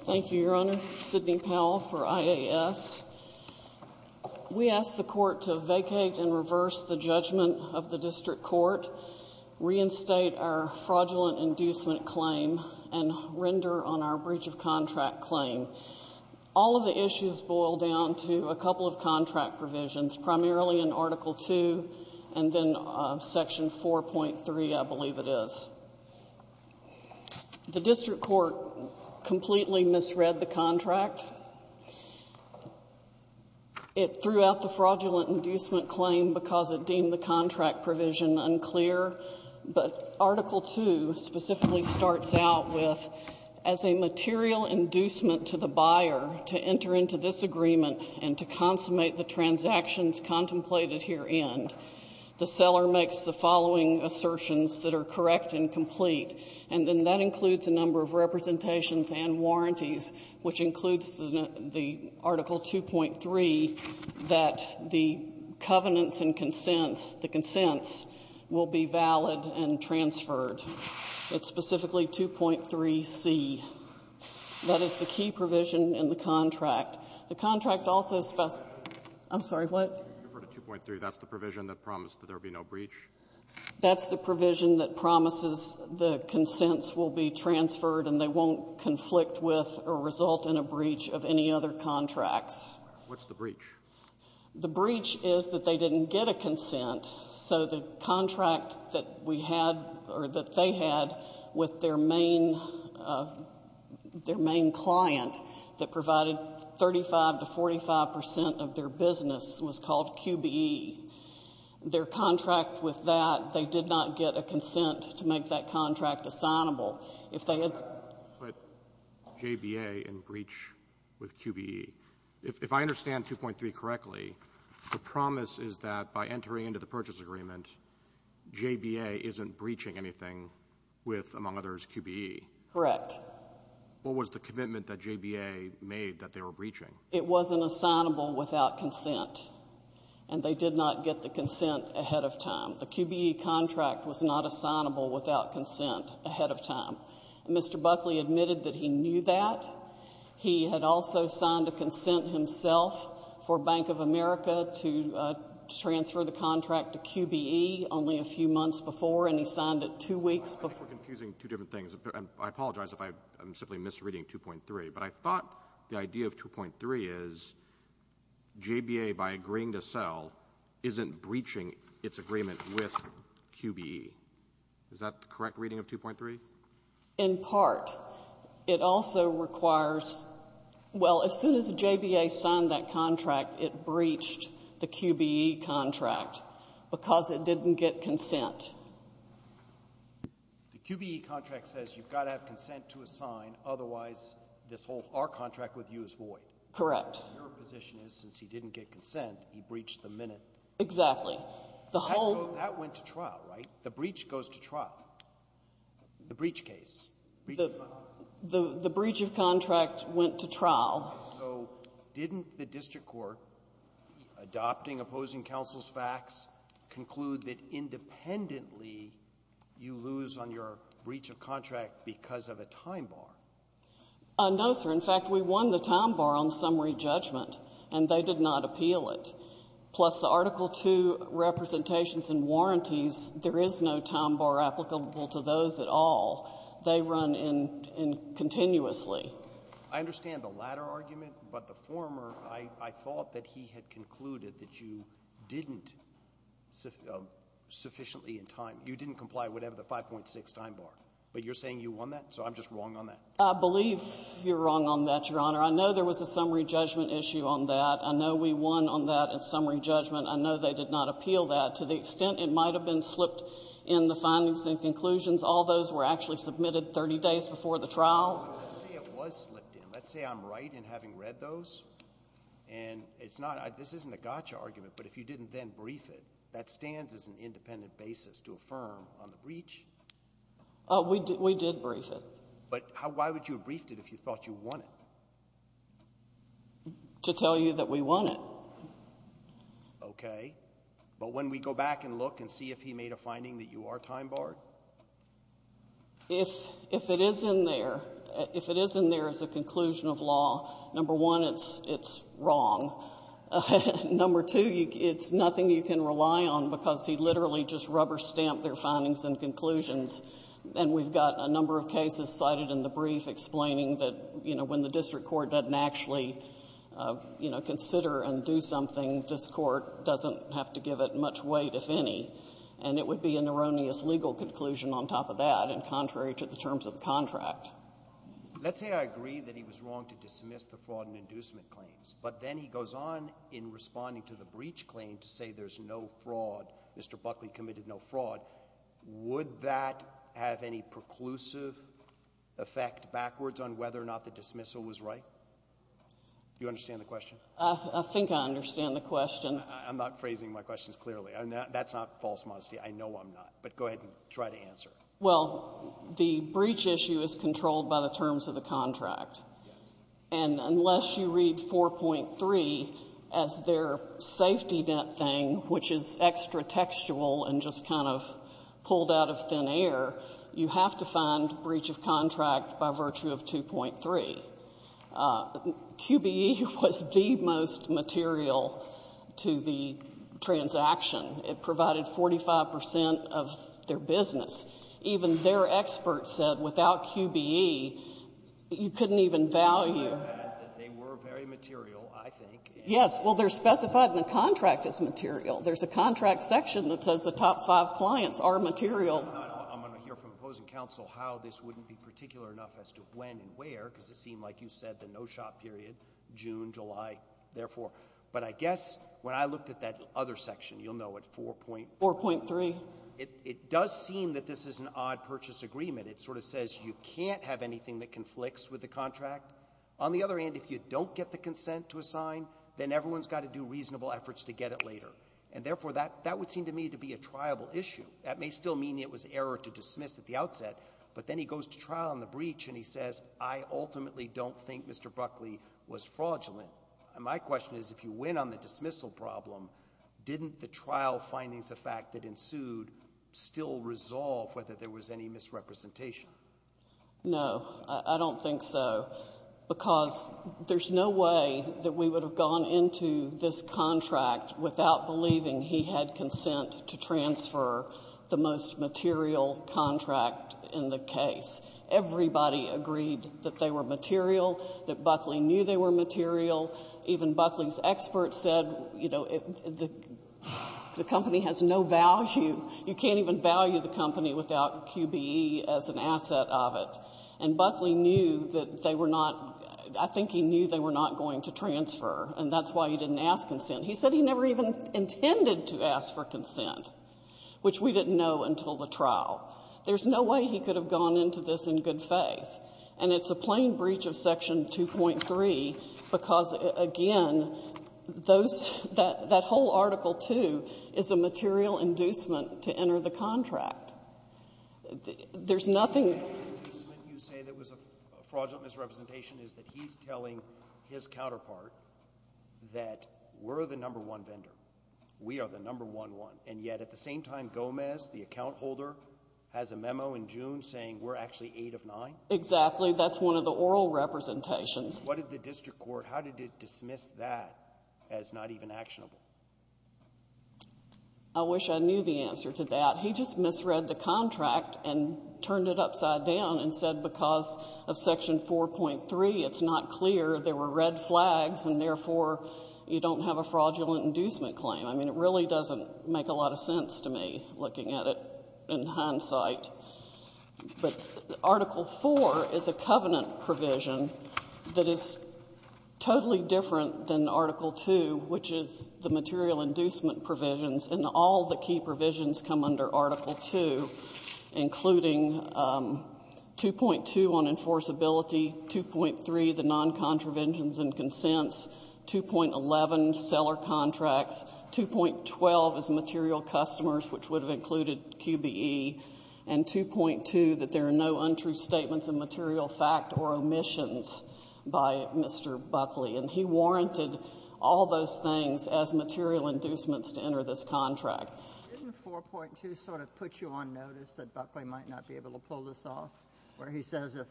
Thank you, Your Honor. Sidney Powell for IAS. We ask the Court to vacate and reverse the judgment of the District Court, reinstate our fraudulent inducement claim, and render on our breach of contract claim. All of the issues boil down to a couple of contract provisions, primarily in Article II and then Section 4.3, I believe it is. The District Court completely misread the contract. It threw out the fraudulent inducement claim because it deemed the contract provision unclear, but Article II specifically starts out with, as a material inducement to the buyer to enter into this agreement and to consummate the transactions contemplated herein, the seller makes the following assertions that are correct and complete, and then that includes a number of representations and warranties, which includes the Article 2.3, that the covenants and consents, the consents will be valid and transferred. It's specifically 2.3c. That is the key provision in the contract. The contract also specifies — I'm sorry, what? You referred to 2.3. That's the provision that promised that there would be no breach? That's the provision that promises the consents will be transferred and they won't conflict with or result in a breach of any other contracts. What's the breach? The breach is that they didn't get a consent, so the contract that we had or that they had with their main — their main client that provided 35 to 45 percent of their business was called QBE. Their contract with that, they did not get a consent to make that contract assignable. If they had — But JBA and breach with QBE. If I understand 2.3 correctly, the promise is that by entering into the purchase agreement, JBA isn't breaching anything with, among others, QBE. Correct. What was the commitment that JBA made that they were breaching? It wasn't assignable without consent, and they did not get the consent ahead of time. The QBE contract was not assignable without consent ahead of time. And Mr. Buckley admitted that he knew that. He had also signed a consent himself for Bank of America to transfer the contract to QBE only a few months before, and he signed it two weeks before. I think we're confusing two different things. I apologize if I'm simply misreading 2.3, but I thought the idea of 2.3 is JBA, by agreeing to sell, isn't breaching its agreement with QBE. Is that the correct reading of 2.3? In part. It also requires — well, as soon as JBA signed that contract, it breached the QBE contract because it didn't get consent. The QBE contract says you've got to have consent to assign, otherwise this whole — our contract with you is void. Correct. Your position is since he didn't get consent, he breached the minute. Exactly. The whole — So that went to trial, right? The breach goes to trial. The breach case. The breach of contract went to trial. So didn't the district court, adopting opposing counsel's facts, conclude that independently you lose on your breach of contract because of a time bar? No, sir. In fact, we won the time bar on summary judgment, and they did not appeal it. Plus, the Article 2 representations and warranties, there is no time bar applicable to those at all. They run in — in continuously. I understand the latter argument, but the former, I thought that he had concluded that you didn't sufficiently in time — you didn't comply with whatever the 5.6 time bar. But you're saying you won that? So I'm just wrong on that? I believe you're wrong on that, Your Honor. I know there was a summary judgment issue on that. I know we won on that in summary judgment. I know they did not appeal that. To the extent it might have been slipped in the findings and conclusions, all those were actually submitted 30 days before the trial. Let's say it was slipped in. Let's say I'm right in having read those, and it's not — this isn't a gotcha argument, but if you didn't then brief it, that stands as an independent basis to affirm on the breach. We did — we did brief it. But how — why would you have briefed it if you thought you won it? To tell you that we won it. Okay. But when we go back and look and see if he made a finding that you are time barred? If — if it is in there — if it is in there as a conclusion of law, number one, it's — it's wrong. Number two, it's nothing you can rely on because he literally just rubber-stamped their findings and conclusions. And we've got a number of cases cited in the brief explaining that, you know, when the district court doesn't actually, you know, consider and do something, this court doesn't have to give it much weight, if any. And it would be an erroneous legal conclusion on top of that, and contrary to the terms of the contract. Let's say I agree that he was wrong to dismiss the fraud and inducement claims, but then he goes on in responding to the breach claim to say there's no fraud, Mr. Chief Justice. Would that have any preclusive effect backwards on whether or not the dismissal was right? Do you understand the question? I think I understand the question. I'm not phrasing my questions clearly. That's not false modesty. I know I'm not. But go ahead and try to answer. Well, the breach issue is controlled by the terms of the contract. Yes. And unless you read 4.3 as their safety net thing, which is extra-textual and just kind of pulled out of thin air, you have to find breach of contract by virtue of 2.3. QBE was the most material to the transaction. It provided 45 percent of their business. Even their experts said without QBE, you couldn't even value. They were very material, I think. Yes. Well, they're specified in the contract as material. There's a contract section that says the top five clients are material. I'm going to hear from opposing counsel how this wouldn't be particular enough as to when and where, because it seemed like you said the no-shop period, June, July, therefore. But I guess when I looked at that other section, you'll know at 4.3, it does seem that this is an odd purchase agreement. It sort of says you can't have anything that conflicts with the contract. On the other hand, if you don't get the consent to assign, then everyone's got to do reasonable efforts to get it later. And therefore, that would seem to me to be a triable issue. That may still mean it was error to dismiss at the outset, but then he goes to trial on the breach and he says, I ultimately don't think Mr. Buckley was fraudulent. And my question is, if you win on the dismissal problem, didn't the trial findings of fact that ensued still resolve whether there was any misrepresentation? No. I don't think so, because there's no way that we would have gone into this contract without believing he had consent to transfer the most material contract in the case. Everybody agreed that they were material, that Buckley knew they were material. Even Buckley's experts said, you know, the company has no value. You can't even value the company without QBE as an asset of it. And Buckley knew that they were not — I think he knew they were not going to transfer, and that's why he didn't ask consent. He said he never even intended to ask for consent, which we didn't know until the trial. There's no way he could have gone into this in good faith. And it's a plain breach of Section 2.3 because, again, those — that whole Article 2 is a material inducement to enter the contract. There's nothing — The inducement you say there was a fraudulent misrepresentation is that he's telling his counterpart that we're the number one vendor, we are the number one one, and yet at the same time, Gomez, the account holder, has a memo in June saying we're actually eight of nine? Exactly. That's one of the oral representations. What did the district court — how did it dismiss that as not even actionable? I wish I knew the answer to that. He just misread the contract and turned it upside down and said because of Section 4.3, it's not clear. There were red flags, and therefore, you don't have a fraudulent inducement claim. I mean, it really doesn't make a lot of sense to me, looking at it in hindsight. But Article 4 is a covenant provision that is totally different than Article 2, which is the material inducement provisions, and all the key provisions come under Article 2, including 2.2 on enforceability, 2.3, the noncontraventions and consents, 2.11, seller contracts, 2.12 is material customers, which would have included QBE, and 2.2, that there are no untrue statements of material fact or omissions by Mr. Buckley. And he warranted all those things as material inducements to enter this contract. Sotomayor, didn't 4.2 sort of put you on notice that Buckley might not be able to pull this off, where he says if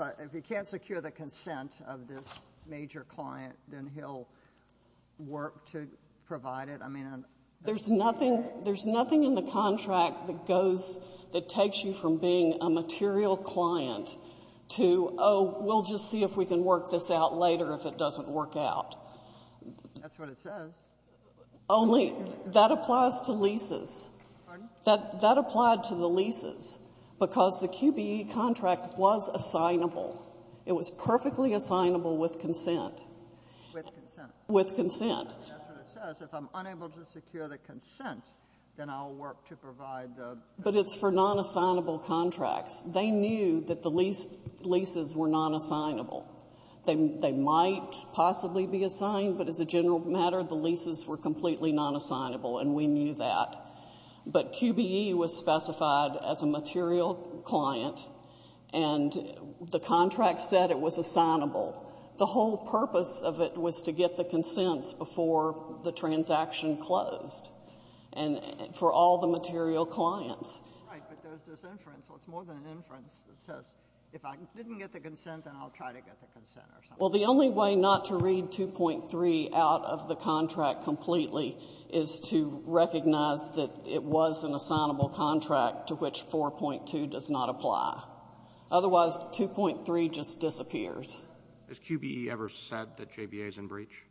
I — if he can't secure the consent of this major client, then he'll work to provide it? I mean — There's nothing — there's nothing in the contract that goes — that takes you from being a material client to, oh, we'll just see if we can work this out later if it doesn't work out. That's what it says. Only that applies to leases. Pardon? That applied to the leases, because the QBE contract was assignable. It was perfectly assignable with consent. With consent. With consent. That's what it says. If I'm unable to secure the consent, then I'll work to provide the — But it's for non-assignable contracts. They knew that the leases were non-assignable. They might possibly be assigned, but as a general matter, the leases were completely non-assignable, and we knew that. But QBE was specified as a material client, and the contract said it was assignable. The whole purpose of it was to get the consents before the transaction closed. And for all the material clients. Right. But there's this inference. Well, it's more than an inference. It says if I didn't get the consent, then I'll try to get the consent or something. Well, the only way not to read 2.3 out of the contract completely is to recognize that it was an assignable contract to which 4.2 does not apply. Otherwise, 2.3 just disappears. Has QBE ever said that JBA is in breach?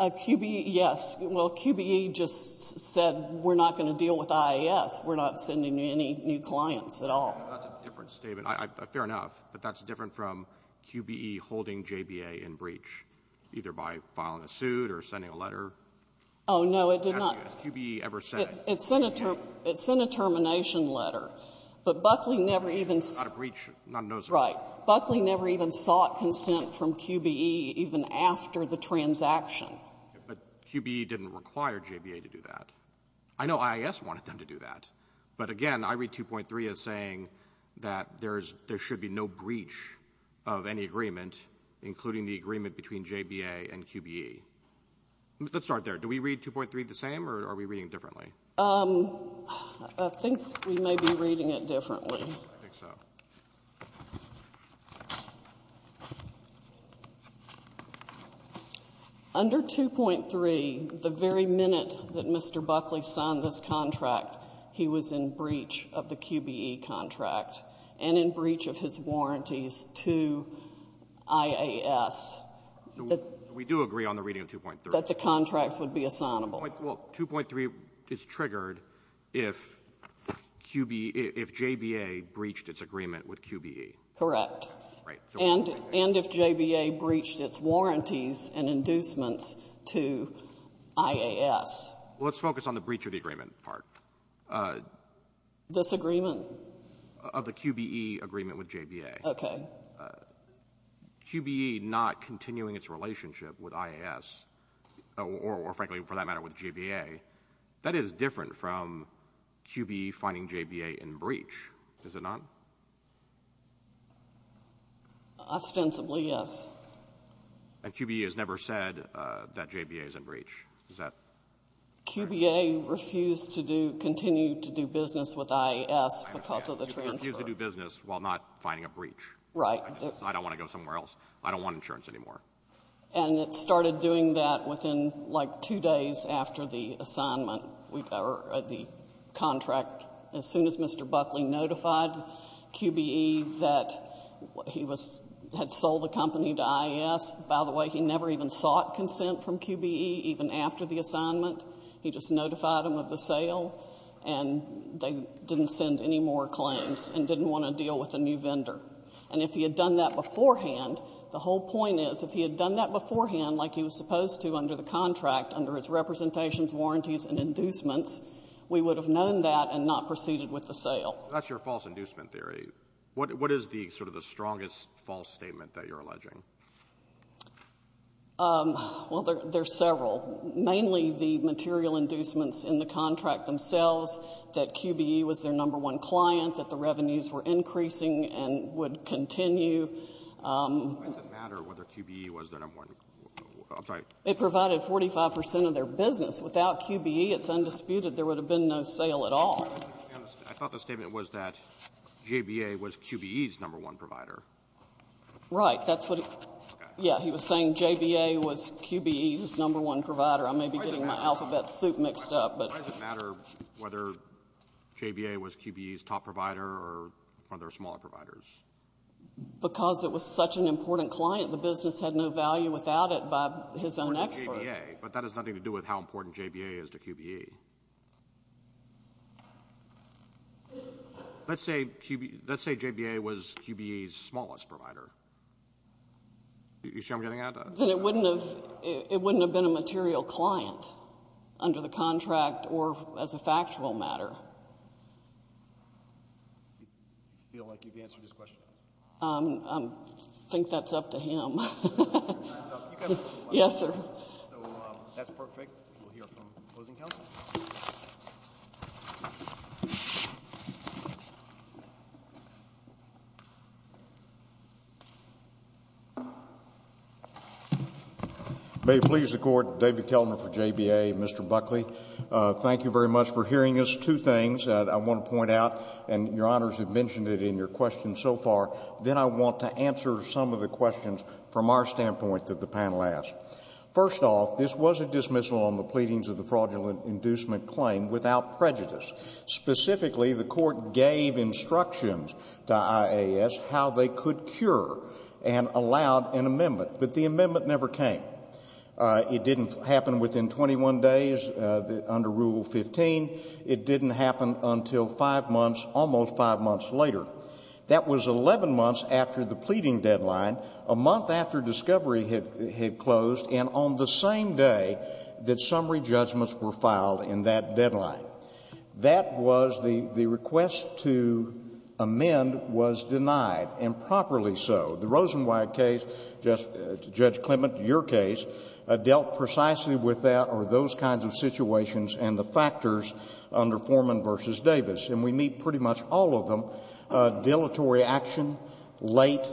QBE — yes. Well, QBE just said we're not going to deal with IAS. We're not sending any new clients at all. That's a different statement. Fair enough. But that's different from QBE holding JBA in breach, either by filing a suit or sending a letter. Oh, no, it did not. Has QBE ever said it? It sent a termination letter. But Buckley never even — It's not a breach. Right. Buckley never even sought consent from QBE even after the transaction. But QBE didn't require JBA to do that. I know IAS wanted them to do that. But again, I read 2.3 as saying that there should be no breach of any agreement, including the agreement between JBA and QBE. Let's start there. Do we read 2.3 the same, or are we reading it differently? I think we may be reading it differently. I think so. In 2.3, the very minute that Mr. Buckley signed this contract, he was in breach of the QBE contract and in breach of his warranties to IAS. So we do agree on the reading of 2.3? That the contracts would be assignable. Well, 2.3 is triggered if QB — if JBA breached its agreement with QBE. Correct. Right. And if JBA breached its warranties and inducements to IAS. Well, let's focus on the breach of the agreement part. Disagreement? Of the QBE agreement with JBA. Okay. QBE not continuing its relationship with IAS, or frankly, for that matter, with JBA, that is different from QBE finding JBA in breach, is it not? Ostensibly, yes. And QBE has never said that JBA is in breach. Is that correct? QBA refused to do — continue to do business with IAS because of the transfer. Refused to do business while not finding a breach. Right. I don't want to go somewhere else. I don't want insurance anymore. And it started doing that within, like, two days after the assignment or the contract. As soon as Mr. Buckley notified QBE that he was — had sold the company to IAS. By the way, he never even sought consent from QBE, even after the assignment. He just notified them of the sale, and they didn't send any more claims and didn't want to deal with a new vendor. And if he had done that beforehand, the whole point is, if he had done that beforehand like he was supposed to under the contract, under his representations, warranties and inducements, we would have known that and not proceeded with the sale. That's your false inducement theory. What is the — sort of the strongest false statement that you're alleging? Well, there's several. Mainly the material inducements in the contract themselves, that QBE was their number one client, that the revenues were increasing and would continue. Why does it matter whether QBE was their number one — I'm sorry. It provided 45 percent of their business. Without QBE, it's undisputed there would have been no sale at all. I thought the statement was that JBA was QBE's number one provider. Right. That's what — yeah. He was saying JBA was QBE's number one provider. I may be getting my alphabet soup mixed up, but — Why does it matter whether JBA was QBE's top provider or one of their smaller providers? Because it was such an important client, the business had no value without it. That's his own expert. But that has nothing to do with how important JBA is to QBE. Let's say JBA was QBE's smallest provider. You see what I'm getting at? Then it wouldn't have been a material client under the contract or as a factual matter. Do you feel like you've answered his question? I think that's up to him. Your time's up. Yes, sir. So that's perfect. We'll hear from the closing counsel. May it please the Court. David Kelman for JBA. Mr. Buckley, thank you very much for hearing us. Two things I want to point out, and Your Honors have mentioned it in your questions so far, then I want to answer some of the questions from our standpoint that the panel asked. First off, this was a dismissal on the pleadings of the fraudulent inducement claim without prejudice. Specifically, the Court gave instructions to IAS how they could cure and allowed an amendment. But the amendment never came. It didn't happen within 21 days under Rule 15. It didn't happen until five months, almost five months later. That was 11 months after the pleading deadline, a month after discovery had closed, and on the same day that summary judgments were filed in that deadline. That was the request to amend was denied, and properly so. The Rosenwald case, Judge Clement, your case, dealt precisely with that or those kinds of situations and the factors under Foreman v. Davis. And we meet pretty much all of them, dilatory action, late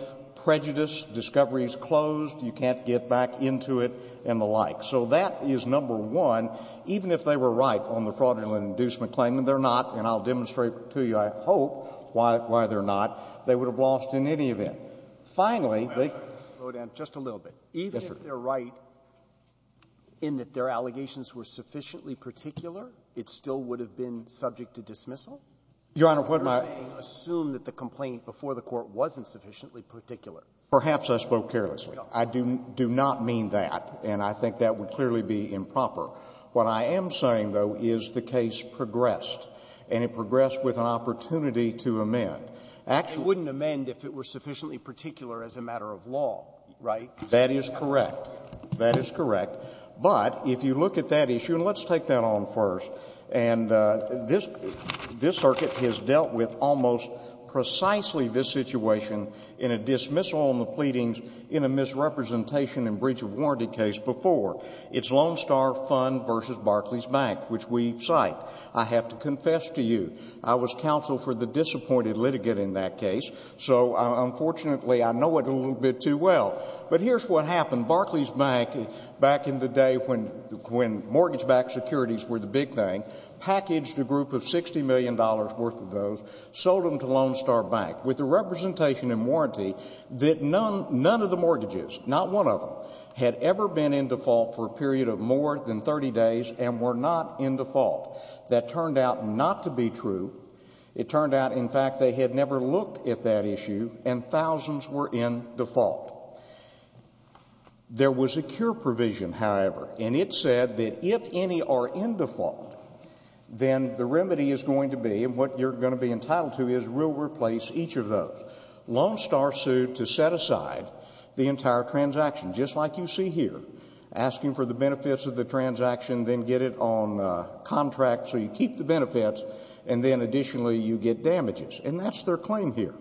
prejudice, discovery is closed, you can't get back into it, and the like. So that is number one. Even if they were right on the fraudulent inducement claim, and they're not, and I'll demonstrate to you, I hope, why they're not, they would have lost in any event. Finally, they can't. Robertson, just a little bit. Even if they're right in that their allegations were sufficiently particular, it still would have been subject to dismissal? Your Honor, what I'm saying assume that the complaint before the Court wasn't sufficiently particular. Perhaps I spoke carelessly. I do not mean that, and I think that would clearly be improper. What I am saying, though, is the case progressed, and it progressed with an opportunity to amend. It wouldn't amend if it were sufficiently particular as a matter of law, right? That is correct. That is correct. But if you look at that issue, and let's take that on first, and this Circuit has dealt with almost precisely this situation in a dismissal on the pleadings in a misrepresentation and breach of warranty case before. It's Lone Star Fund v. Barclays Bank, which we cite. I have to confess to you, I was counsel for the disappointed litigant in that case, so unfortunately I know it a little bit too well. But here's what happened. Barclays Bank, back in the day when mortgage-backed securities were the big thing, packaged a group of $60 million worth of those, sold them to Lone Star Bank with a representation and warranty that none of the mortgages, not one of them, had ever been in default for a period of more than 30 days and were not in default. That turned out not to be true. It turned out, in fact, they had never looked at that issue, and thousands were in default. There was a cure provision, however, and it said that if any are in default, then the remedy is going to be, and what you're going to be entitled to is we'll replace each of those. Lone Star sued to set aside the entire transaction, just like you see here, asking for the benefits of the transaction, then get it on contract so you keep the benefits, and then additionally you get damages. And that's their claim here.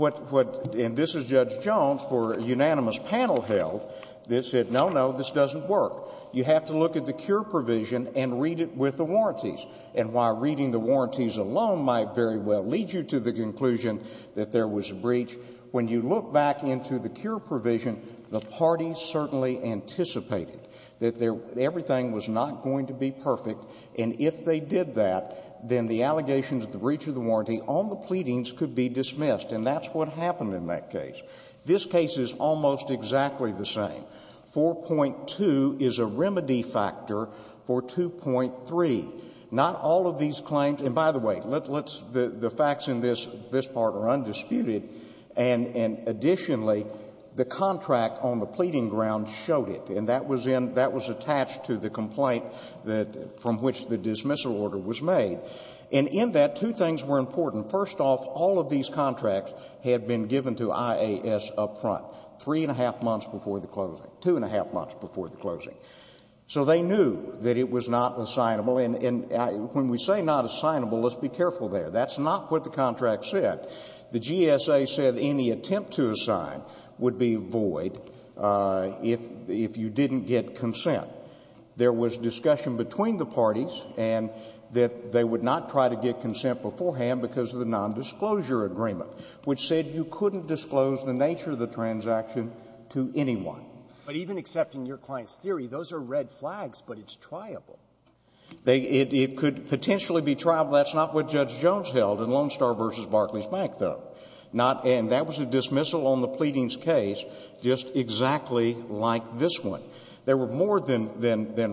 And this is Judge Jones for a unanimous panel held that said, no, no, this doesn't work. You have to look at the cure provision and read it with the warranties. And while reading the warranties alone might very well lead you to the conclusion that there was a breach, when you look back into the cure provision, the parties certainly anticipated that everything was not going to be perfect, and if they did that, then the allegations of the breach of the warranty on the pleadings could be dismissed, and that's what happened in that case. This case is almost exactly the same. 4.2 is a remedy factor for 2.3. Not all of these claims, and by the way, let's, the facts in this part are undisputed, and additionally, the contract on the pleading ground showed it, and that was in, that was attached to the complaint that, from which the dismissal order was made. And in that, two things were important. First off, all of these contracts had been given to IAS up front, three and a half months before the closing, two and a half months before the closing. So they knew that it was not assignable, and when we say not assignable, let's be careful there. That's not what the contract said. The GSA said any attempt to assign would be void if you didn't get consent. There was discussion between the parties and that they would not try to get consent beforehand because of the nondisclosure agreement, which said you couldn't disclose the nature of the transaction to anyone. But even accepting your client's theory, those are red flags, but it's triable. It could potentially be triable. That's not what Judge Jones held in Lone Star v. Barclays Bank, though. And that was a dismissal on the pleadings case just exactly like this one. There were more than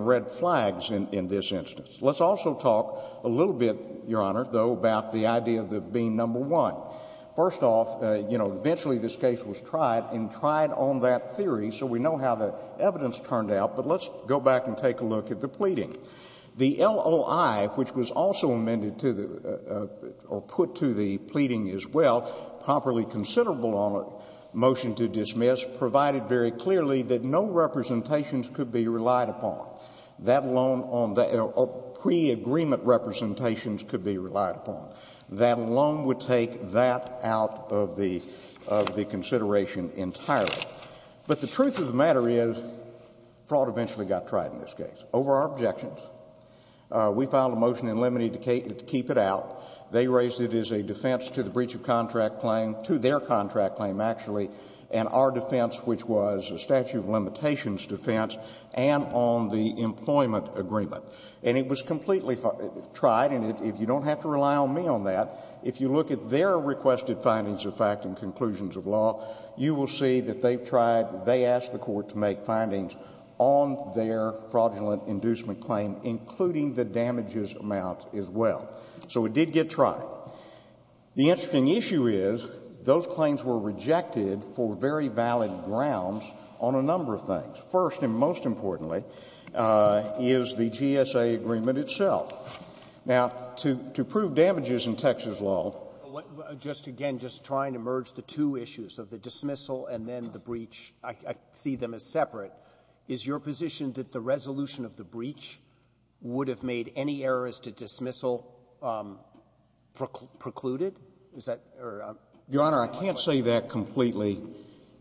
red flags in this instance. Let's also talk a little bit, Your Honor, though, about the idea of it being number one. First off, you know, eventually this case was tried, and tried on that theory, so we know how the evidence turned out, but let's go back and take a look at the pleading. The LOI, which was also amended to the or put to the pleading as well, properly considerable on a motion to dismiss, provided very clearly that no representations could be relied upon. That alone on the pre-agreement representations could be relied upon. That alone would take that out of the consideration entirely. But the truth of the matter is fraud eventually got tried in this case. Over our objections, we filed a motion in limine to keep it out. They raised it as a defense to the breach of contract claim, to their contract claim, actually, and our defense, which was a statute of limitations defense, and on the employment agreement. And it was completely tried, and if you don't have to rely on me on that, if you look at their requested findings of fact and conclusions of law, you will see that they've tried, they asked the Court to make findings on their fraudulent inducement claim, including the damages amount as well. So it did get tried. The interesting issue is those claims were rejected for very valid grounds on a number of things. First and most importantly is the GSA agreement itself. Now, to prove damages in Texas law. Breyer. Just again, just trying to merge the two issues of the dismissal and then the breach, I see them as separate. Is your position that the resolution of the breach would have made any errors to dismissal precluded? Is that or? Your Honor, I can't say that completely.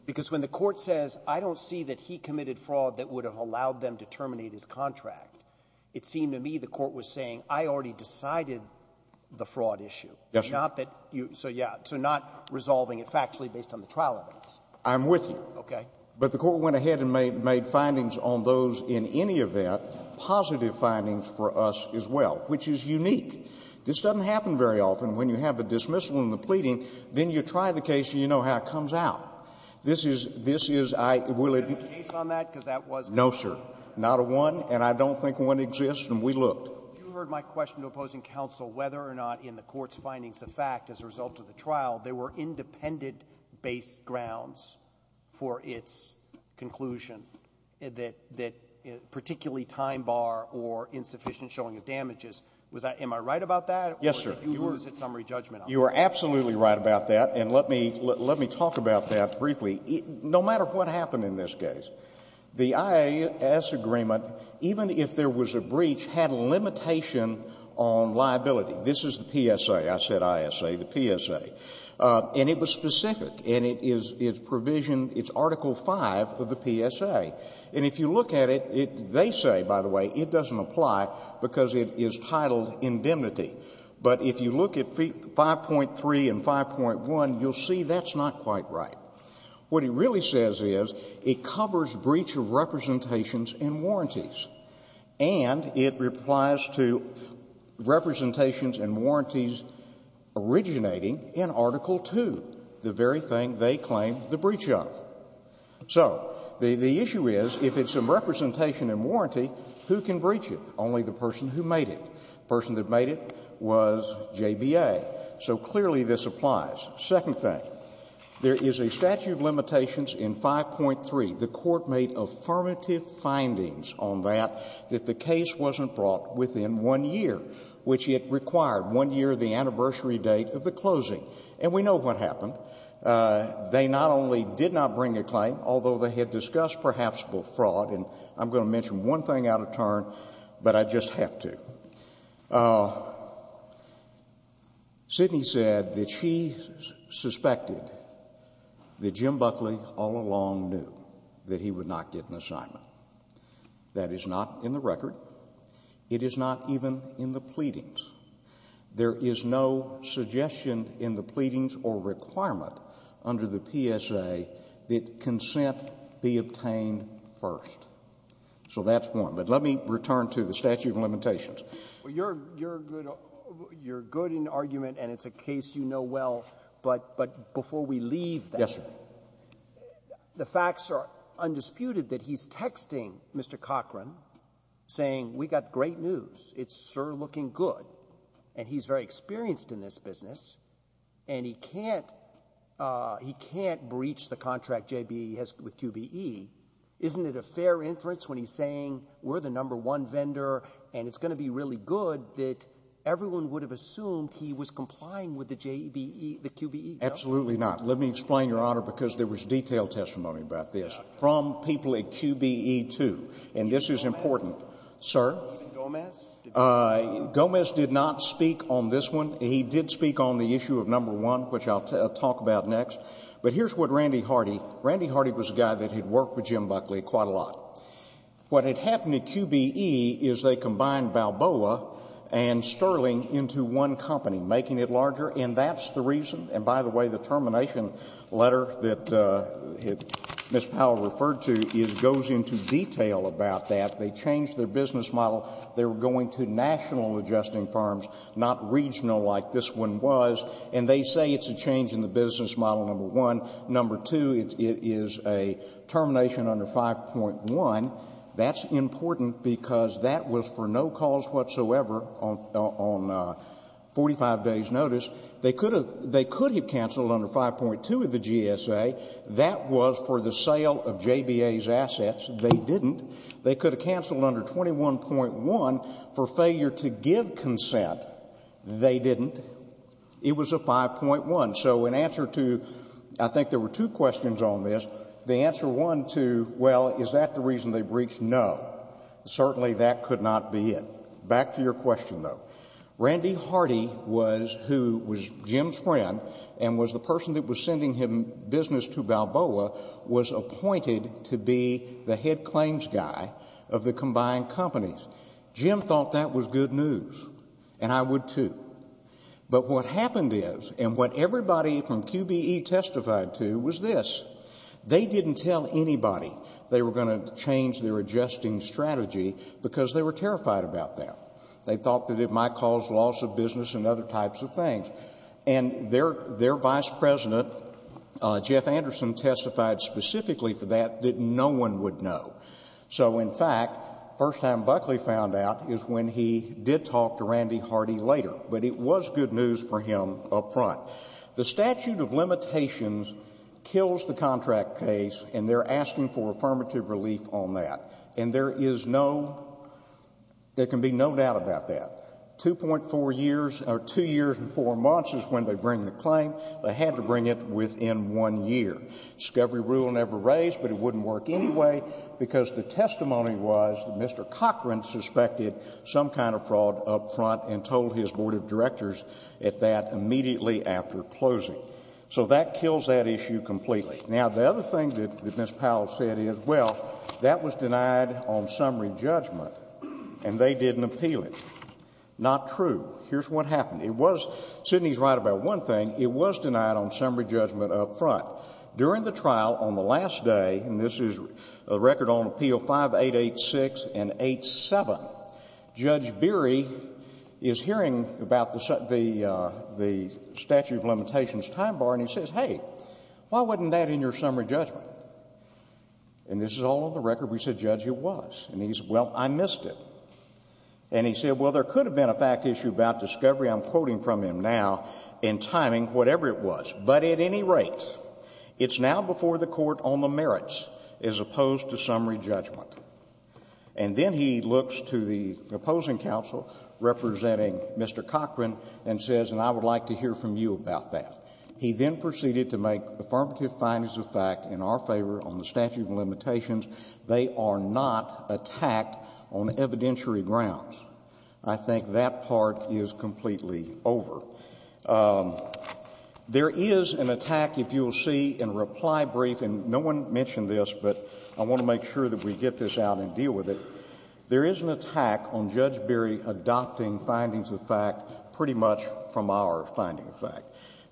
Because when the Court says, I don't see that he committed fraud that would have allowed them to terminate his contract, it seemed to me the Court was saying, I already decided the fraud issue. Yes, sir. Not that you so, yeah, so not resolving it factually based on the trial events. I'm with you. Okay. But the Court went ahead and made findings on those in any event, positive findings for us as well, which is unique. This doesn't happen very often. When you have a dismissal and a pleading, then you try the case and you know how it comes out. This is, this is, I, will it be no, sir, not a one, and I don't think one exists, and we looked. So you heard my question to opposing counsel whether or not in the Court's findings of fact as a result of the trial, there were independent-based grounds for its conclusion that particularly time bar or insufficient showing of damages. Was I, am I right about that? Yes, sir. Or is it summary judgment? You are absolutely right about that. And let me, let me talk about that briefly. No matter what happened in this case, the IAS agreement, even if there was a breach, had a limitation on liability. This is the PSA. I said ISA, the PSA. And it was specific, and it is, it's provision, it's Article V of the PSA. And if you look at it, it, they say, by the way, it doesn't apply because it is titled indemnity. But if you look at 5.3 and 5.1, you'll see that's not quite right. What it really says is it covers breach of representations and warranties. And it applies to representations and warranties originating in Article II, the very thing they claim the breach of. So the, the issue is, if it's a representation and warranty, who can breach it? Only the person who made it. The person that made it was JBA. So clearly this applies. Second thing, there is a statute of limitations in 5.3. The Court made affirmative findings on that, that the case wasn't brought within one year, which it required, one year of the anniversary date of the closing. And we know what happened. They not only did not bring a claim, although they had discussed perhaps fraud, and I'm going to mention one thing out of turn, but I just have to. Sidney said that she suspected that Jim Buckley all along knew that he would not get an assignment. That is not in the record. It is not even in the pleadings. There is no suggestion in the pleadings or requirement under the PSA that consent be obtained first. So that's one. But let me return to the statute of limitations. Roberts. Well, you're, you're good, you're good in argument, and it's a case you know well. But, but before we leave that. Yes, sir. The facts are undisputed that he's texting Mr. Cochran saying we got great news. It's sure looking good. And he's very experienced in this business. And he can't, he can't breach the contract JBE has with QBE. Isn't it a fair inference when he's saying we're the number one vendor and it's going to be really good that everyone would have assumed he was complying with the JBE, the QBE? Absolutely not. Let me explain, Your Honor, because there was detailed testimony about this from people at QBE, too. And this is important. Sir. Even Gomez? Gomez did not speak on this one. He did speak on the issue of number one, which I'll talk about next. But here's what Randy Hardy. Randy Hardy was a guy that had worked with Jim Buckley quite a lot. What had happened at QBE is they combined Balboa and Sterling into one company, making it larger, and that's the reason. And by the way, the termination letter that Ms. Powell referred to goes into detail about that. They changed their business model. They were going to national adjusting firms, not regional like this one was. And they say it's a change in the business model, number one. Number two, it is a termination under 5.1. That's important because that was for no cause whatsoever on 45 days' notice. They could have canceled under 5.2 of the GSA. That was for the sale of JBA's assets. They didn't. They could have canceled under 21.1 for failure to give consent. They didn't. It was a 5.1. So in answer to I think there were two questions on this, the answer one to, well, is that the reason they breached? No. Certainly that could not be it. Back to your question, though. Randy Hardy was who was Jim's friend and was the person that was sending him business to Balboa, was appointed to be the head claims guy of the combined companies. Jim thought that was good news, and I would too. But what happened is and what everybody from QBE testified to was this. They didn't tell anybody they were going to change their adjusting strategy because they were terrified about that. They thought that it might cause loss of business and other types of things. And their vice president, Jeff Anderson, testified specifically for that that no one would know. So, in fact, the first time Buckley found out is when he did talk to Randy Hardy later, but it was good news for him up front. The statute of limitations kills the contract case, and they're asking for affirmative relief on that. And there is no, there can be no doubt about that. 2.4 years or 2 years and 4 months is when they bring the claim. They had to bring it within one year. Discovery rule never raised, but it wouldn't work anyway because the testimony was that Mr. at that immediately after closing. So that kills that issue completely. Now, the other thing that Ms. Powell said is, well, that was denied on summary judgment, and they didn't appeal it. Not true. Here's what happened. It was, Sidney's right about one thing, it was denied on summary judgment up front. During the trial on the last day, and this is a record on appeal 5886 and 87, Judge Beery is hearing about the statute of limitations time bar, and he says, hey, why wasn't that in your summary judgment? And this is all on the record. We said, Judge, it was. And he said, well, I missed it. And he said, well, there could have been a fact issue about Discovery, I'm quoting from him now, in timing, whatever it was. But at any rate, it's now before the Court on the merits as opposed to summary judgment. And then he looks to the opposing counsel representing Mr. Cochran and says, and I would like to hear from you about that. He then proceeded to make affirmative findings of fact in our favor on the statute of limitations. They are not attacked on evidentiary grounds. I think that part is completely over. There is an attack, if you will see in reply brief, and no one mentioned this, but I want to make sure that we get this out and deal with it. There is an attack on Judge Beery adopting findings of fact pretty much from our finding of fact.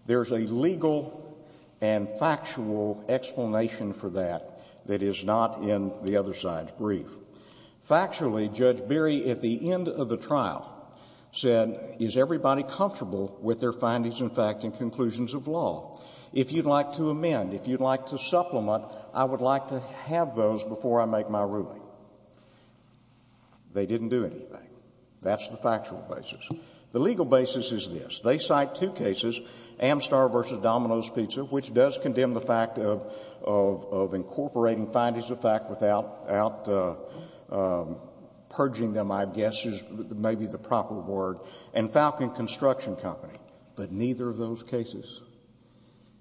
There is a legal and factual explanation for that that is not in the other side's brief. Factually, Judge Beery at the end of the trial said, is everybody comfortable with their findings of fact and conclusions of law? If you'd like to amend, if you'd like to supplement, I would like to have those before I make my ruling. They didn't do anything. That's the factual basis. The legal basis is this. They cite two cases, Amstar v. Domino's Pizza, which does condemn the fact of incorporating findings of fact without purging them, I guess is maybe the proper word, and Falcon Construction Company, but neither of those cases,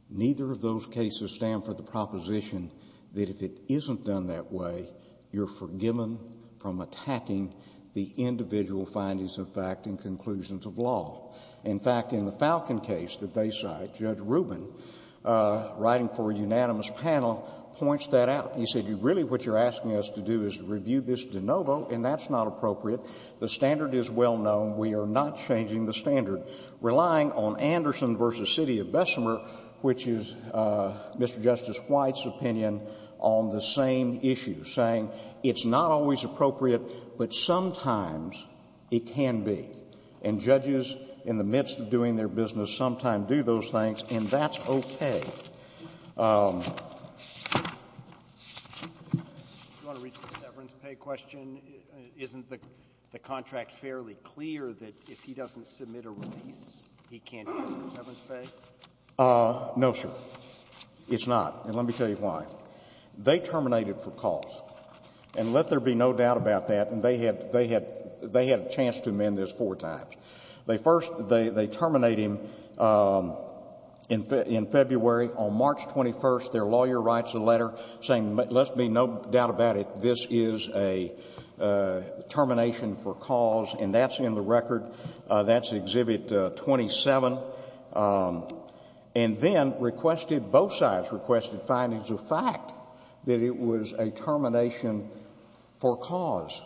neither of those cases stand for the proposition that if it isn't done that way, you're forgiven from attacking the individual findings of fact and conclusions of law. In fact, in the Falcon case that they cite, Judge Rubin, writing for a unanimous panel, points that out. He said, really what you're asking us to do is review this de novo, and that's not appropriate. The standard is well known. We are not changing the standard. Relying on Anderson v. City of Bessemer, which is Mr. Justice White's opinion on the same issue, saying it's not always appropriate, but sometimes it can be. And judges, in the midst of doing their business, sometimes do those things, and that's okay. Alito, do you want to reach the severance pay question? Isn't the contract fairly clear that if he doesn't submit a release, he can't get severance pay? No, sir. It's not. And let me tell you why. They terminated for cause. And let there be no doubt about that. And they had a chance to amend this four times. They first, they terminate him in February. On March 21st, their lawyer writes a letter saying, let there be no doubt about it, this is a termination for cause, and that's in the record. That's Exhibit 27. And then requested, both sides requested findings of fact that it was a termination for cause.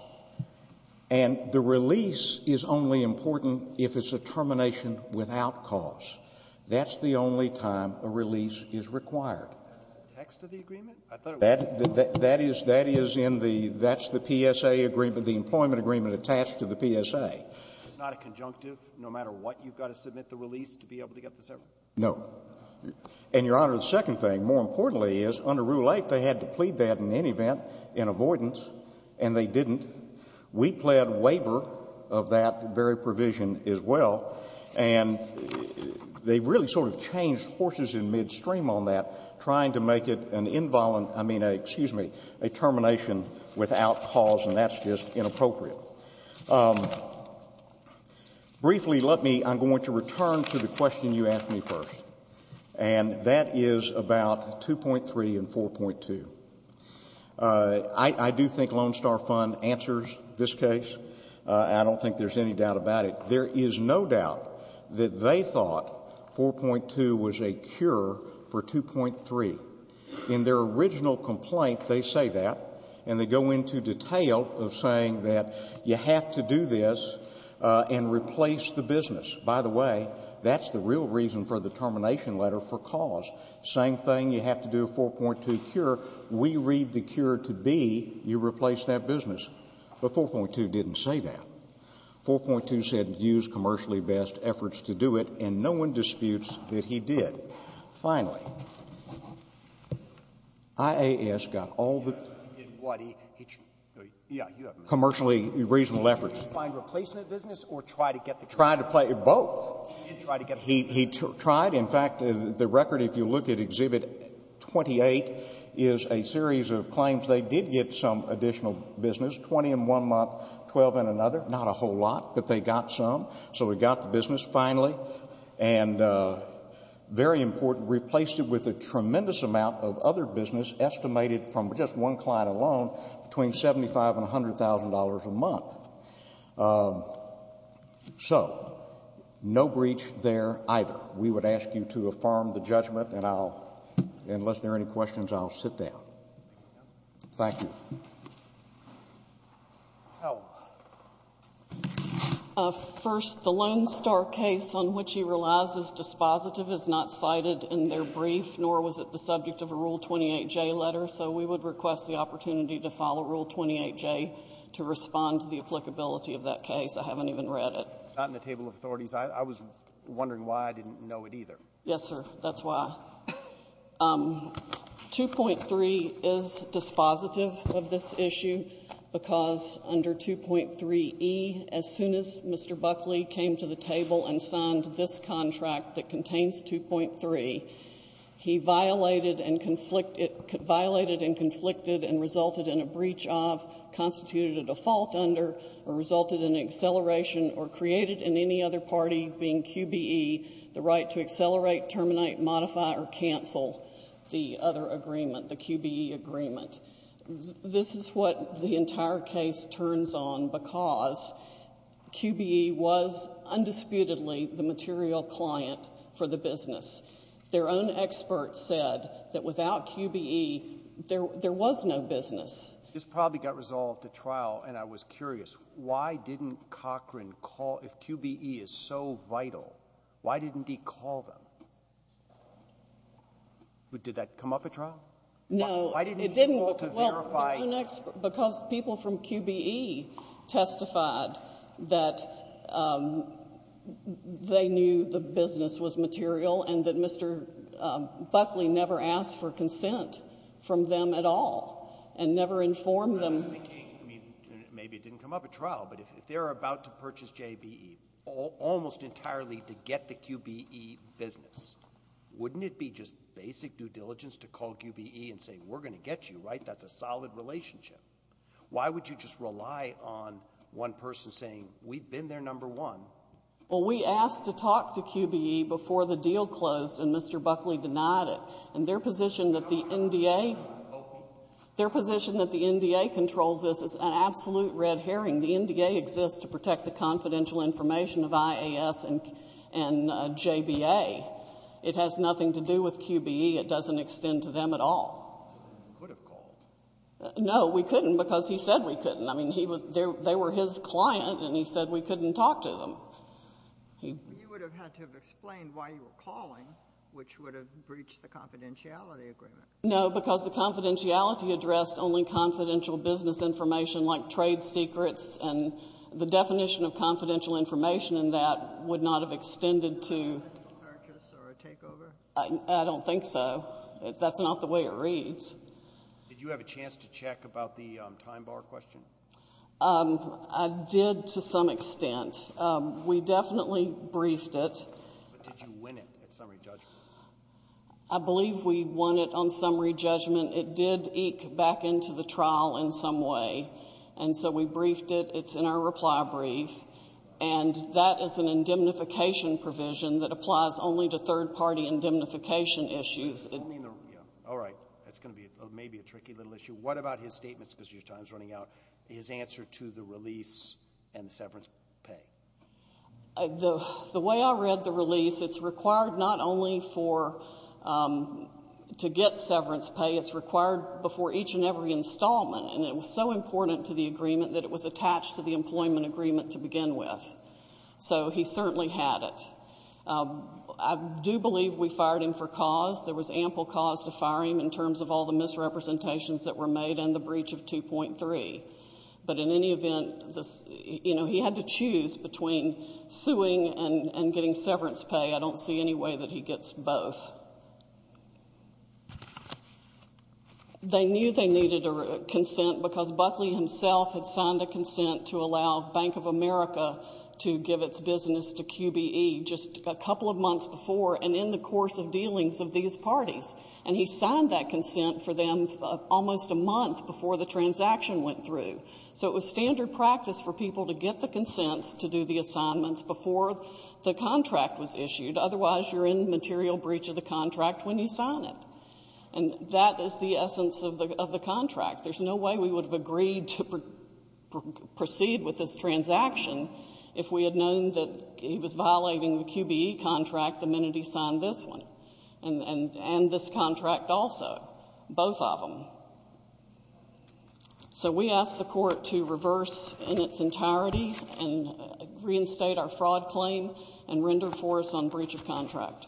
And the release is only important if it's a termination without cause. That's the only time a release is required. That's the text of the agreement? I thought it was. That is, that is in the, that's the PSA agreement, the employment agreement attached to the PSA. It's not a conjunctive? No matter what, you've got to submit the release to be able to get the severance? No. And, Your Honor, the second thing, more importantly, is under Rule 8, they had to plead that in any event in avoidance, and they didn't. We pled waiver of that very provision as well. And they really sort of changed horses in midstream on that, trying to make it an involuntary, I mean, excuse me, a termination without cause, and that's just inappropriate. Briefly, let me, I'm going to return to the question you asked me first. And that is about 2.3 and 4.2. I do think Lone Star Fund answers this case. I don't think there's any doubt about it. There is no doubt that they thought 4.2 was a cure for 2.3. In their original complaint, they say that, and they go into detail of saying that you have to do this and replace the business. By the way, that's the real reason for the termination letter for cause. Same thing, you have to do a 4.2 cure. We read the cure to be you replace that business. But 4.2 didn't say that. 4.2 said use commercially best efforts to do it, and no one disputes that he did. Finally, IAS got all the commercially reasonable efforts. Did he find replacement business or try to get the business? Tried to play both. He did try to get the business. He tried. In fact, the record, if you look at Exhibit 28, is a series of claims they did get some additional business, 20 in one month, 12 in another. Not a whole lot, but they got some. So we got the business finally. And very important, replaced it with a tremendous amount of other business estimated from just one client alone between $75,000 and $100,000 a month. So no breach there either. We would ask you to affirm the judgment, and I'll, unless there are any questions, I'll sit down. Thank you. Howell. First, the Lone Star case on which he relies is dispositive is not cited in their brief, nor was it the subject of a Rule 28J letter. So we would request the opportunity to follow Rule 28J to respond to the applicability of that case. I haven't even read it. It's not in the table of authorities. I was wondering why I didn't know it either. Yes, sir. That's why. 2.3 is dispositive of this issue because under 2.3E, as soon as Mr. Buckley came to the table and signed this contract that contains 2.3, he violated and conflicted and resulted in a breach of, constituted a default under, or resulted in acceleration or created in any other party being QBE the right to accelerate, terminate, modify, or cancel the other agreement, the QBE agreement. This is what the entire case turns on because QBE was undisputedly the material client for the business. Their own experts said that without QBE, there was no business. This probably got resolved at trial, and I was curious. Why didn't Cochran call? If QBE is so vital, why didn't he call them? Did that come up at trial? No. Why didn't he call to verify? Because people from QBE testified that they knew the business was material and that Maybe it didn't come up at trial, but if they're about to purchase JBE almost entirely to get the QBE business, wouldn't it be just basic due diligence to call QBE and say we're going to get you, right? That's a solid relationship. Why would you just rely on one person saying we've been there, number one? Well, we asked to talk to QBE before the deal closed, and Mr. Buckley denied it. And their position that the NDA controls this is an absolute red herring. The NDA exists to protect the confidential information of IAS and JBA. It has nothing to do with QBE. It doesn't extend to them at all. You could have called. No, we couldn't because he said we couldn't. I mean, they were his client, and he said we couldn't talk to them. You would have had to have explained why you were calling, which would have breached the confidentiality agreement. No, because the confidentiality addressed only confidential business information like trade secrets, and the definition of confidential information in that would not have extended to a purchase or a takeover? I don't think so. That's not the way it reads. Did you have a chance to check about the time bar question? I did to some extent. We definitely briefed it. But did you win it at summary judgment? I believe we won it on summary judgment. It did eke back into the trial in some way, and so we briefed it. It's in our reply brief, and that is an indemnification provision that applies only to third-party indemnification issues. All right. That's going to be maybe a tricky little issue. What about his statements, because your time is running out, his answer to the release and the severance pay? The way I read the release, it's required not only to get severance pay. It's required before each and every installment, and it was so important to the agreement that it was attached to the employment agreement to begin with. So he certainly had it. I do believe we fired him for cause. There was ample cause to fire him in terms of all the misrepresentations that were made and the breach of 2.3. But in any event, he had to choose between suing and getting severance pay. I don't see any way that he gets both. They knew they needed a consent because Buckley himself had signed a consent to allow Bank of America to give its business to QBE just a couple of months before, and in the course of dealings of these parties. And he signed that consent for them almost a month before the transaction went through. So it was standard practice for people to get the consents to do the assignments before the contract was issued. Otherwise, you're in material breach of the contract when you sign it. And that is the essence of the contract. There's no way we would have agreed to proceed with this transaction if we had known that he was violating the QBE contract the minute he signed this one and this contract also, both of them. So we ask the Court to reverse in its entirety and reinstate our fraud claim and render for us on breach of contract. Thank you. We'll take a 15-minute recess.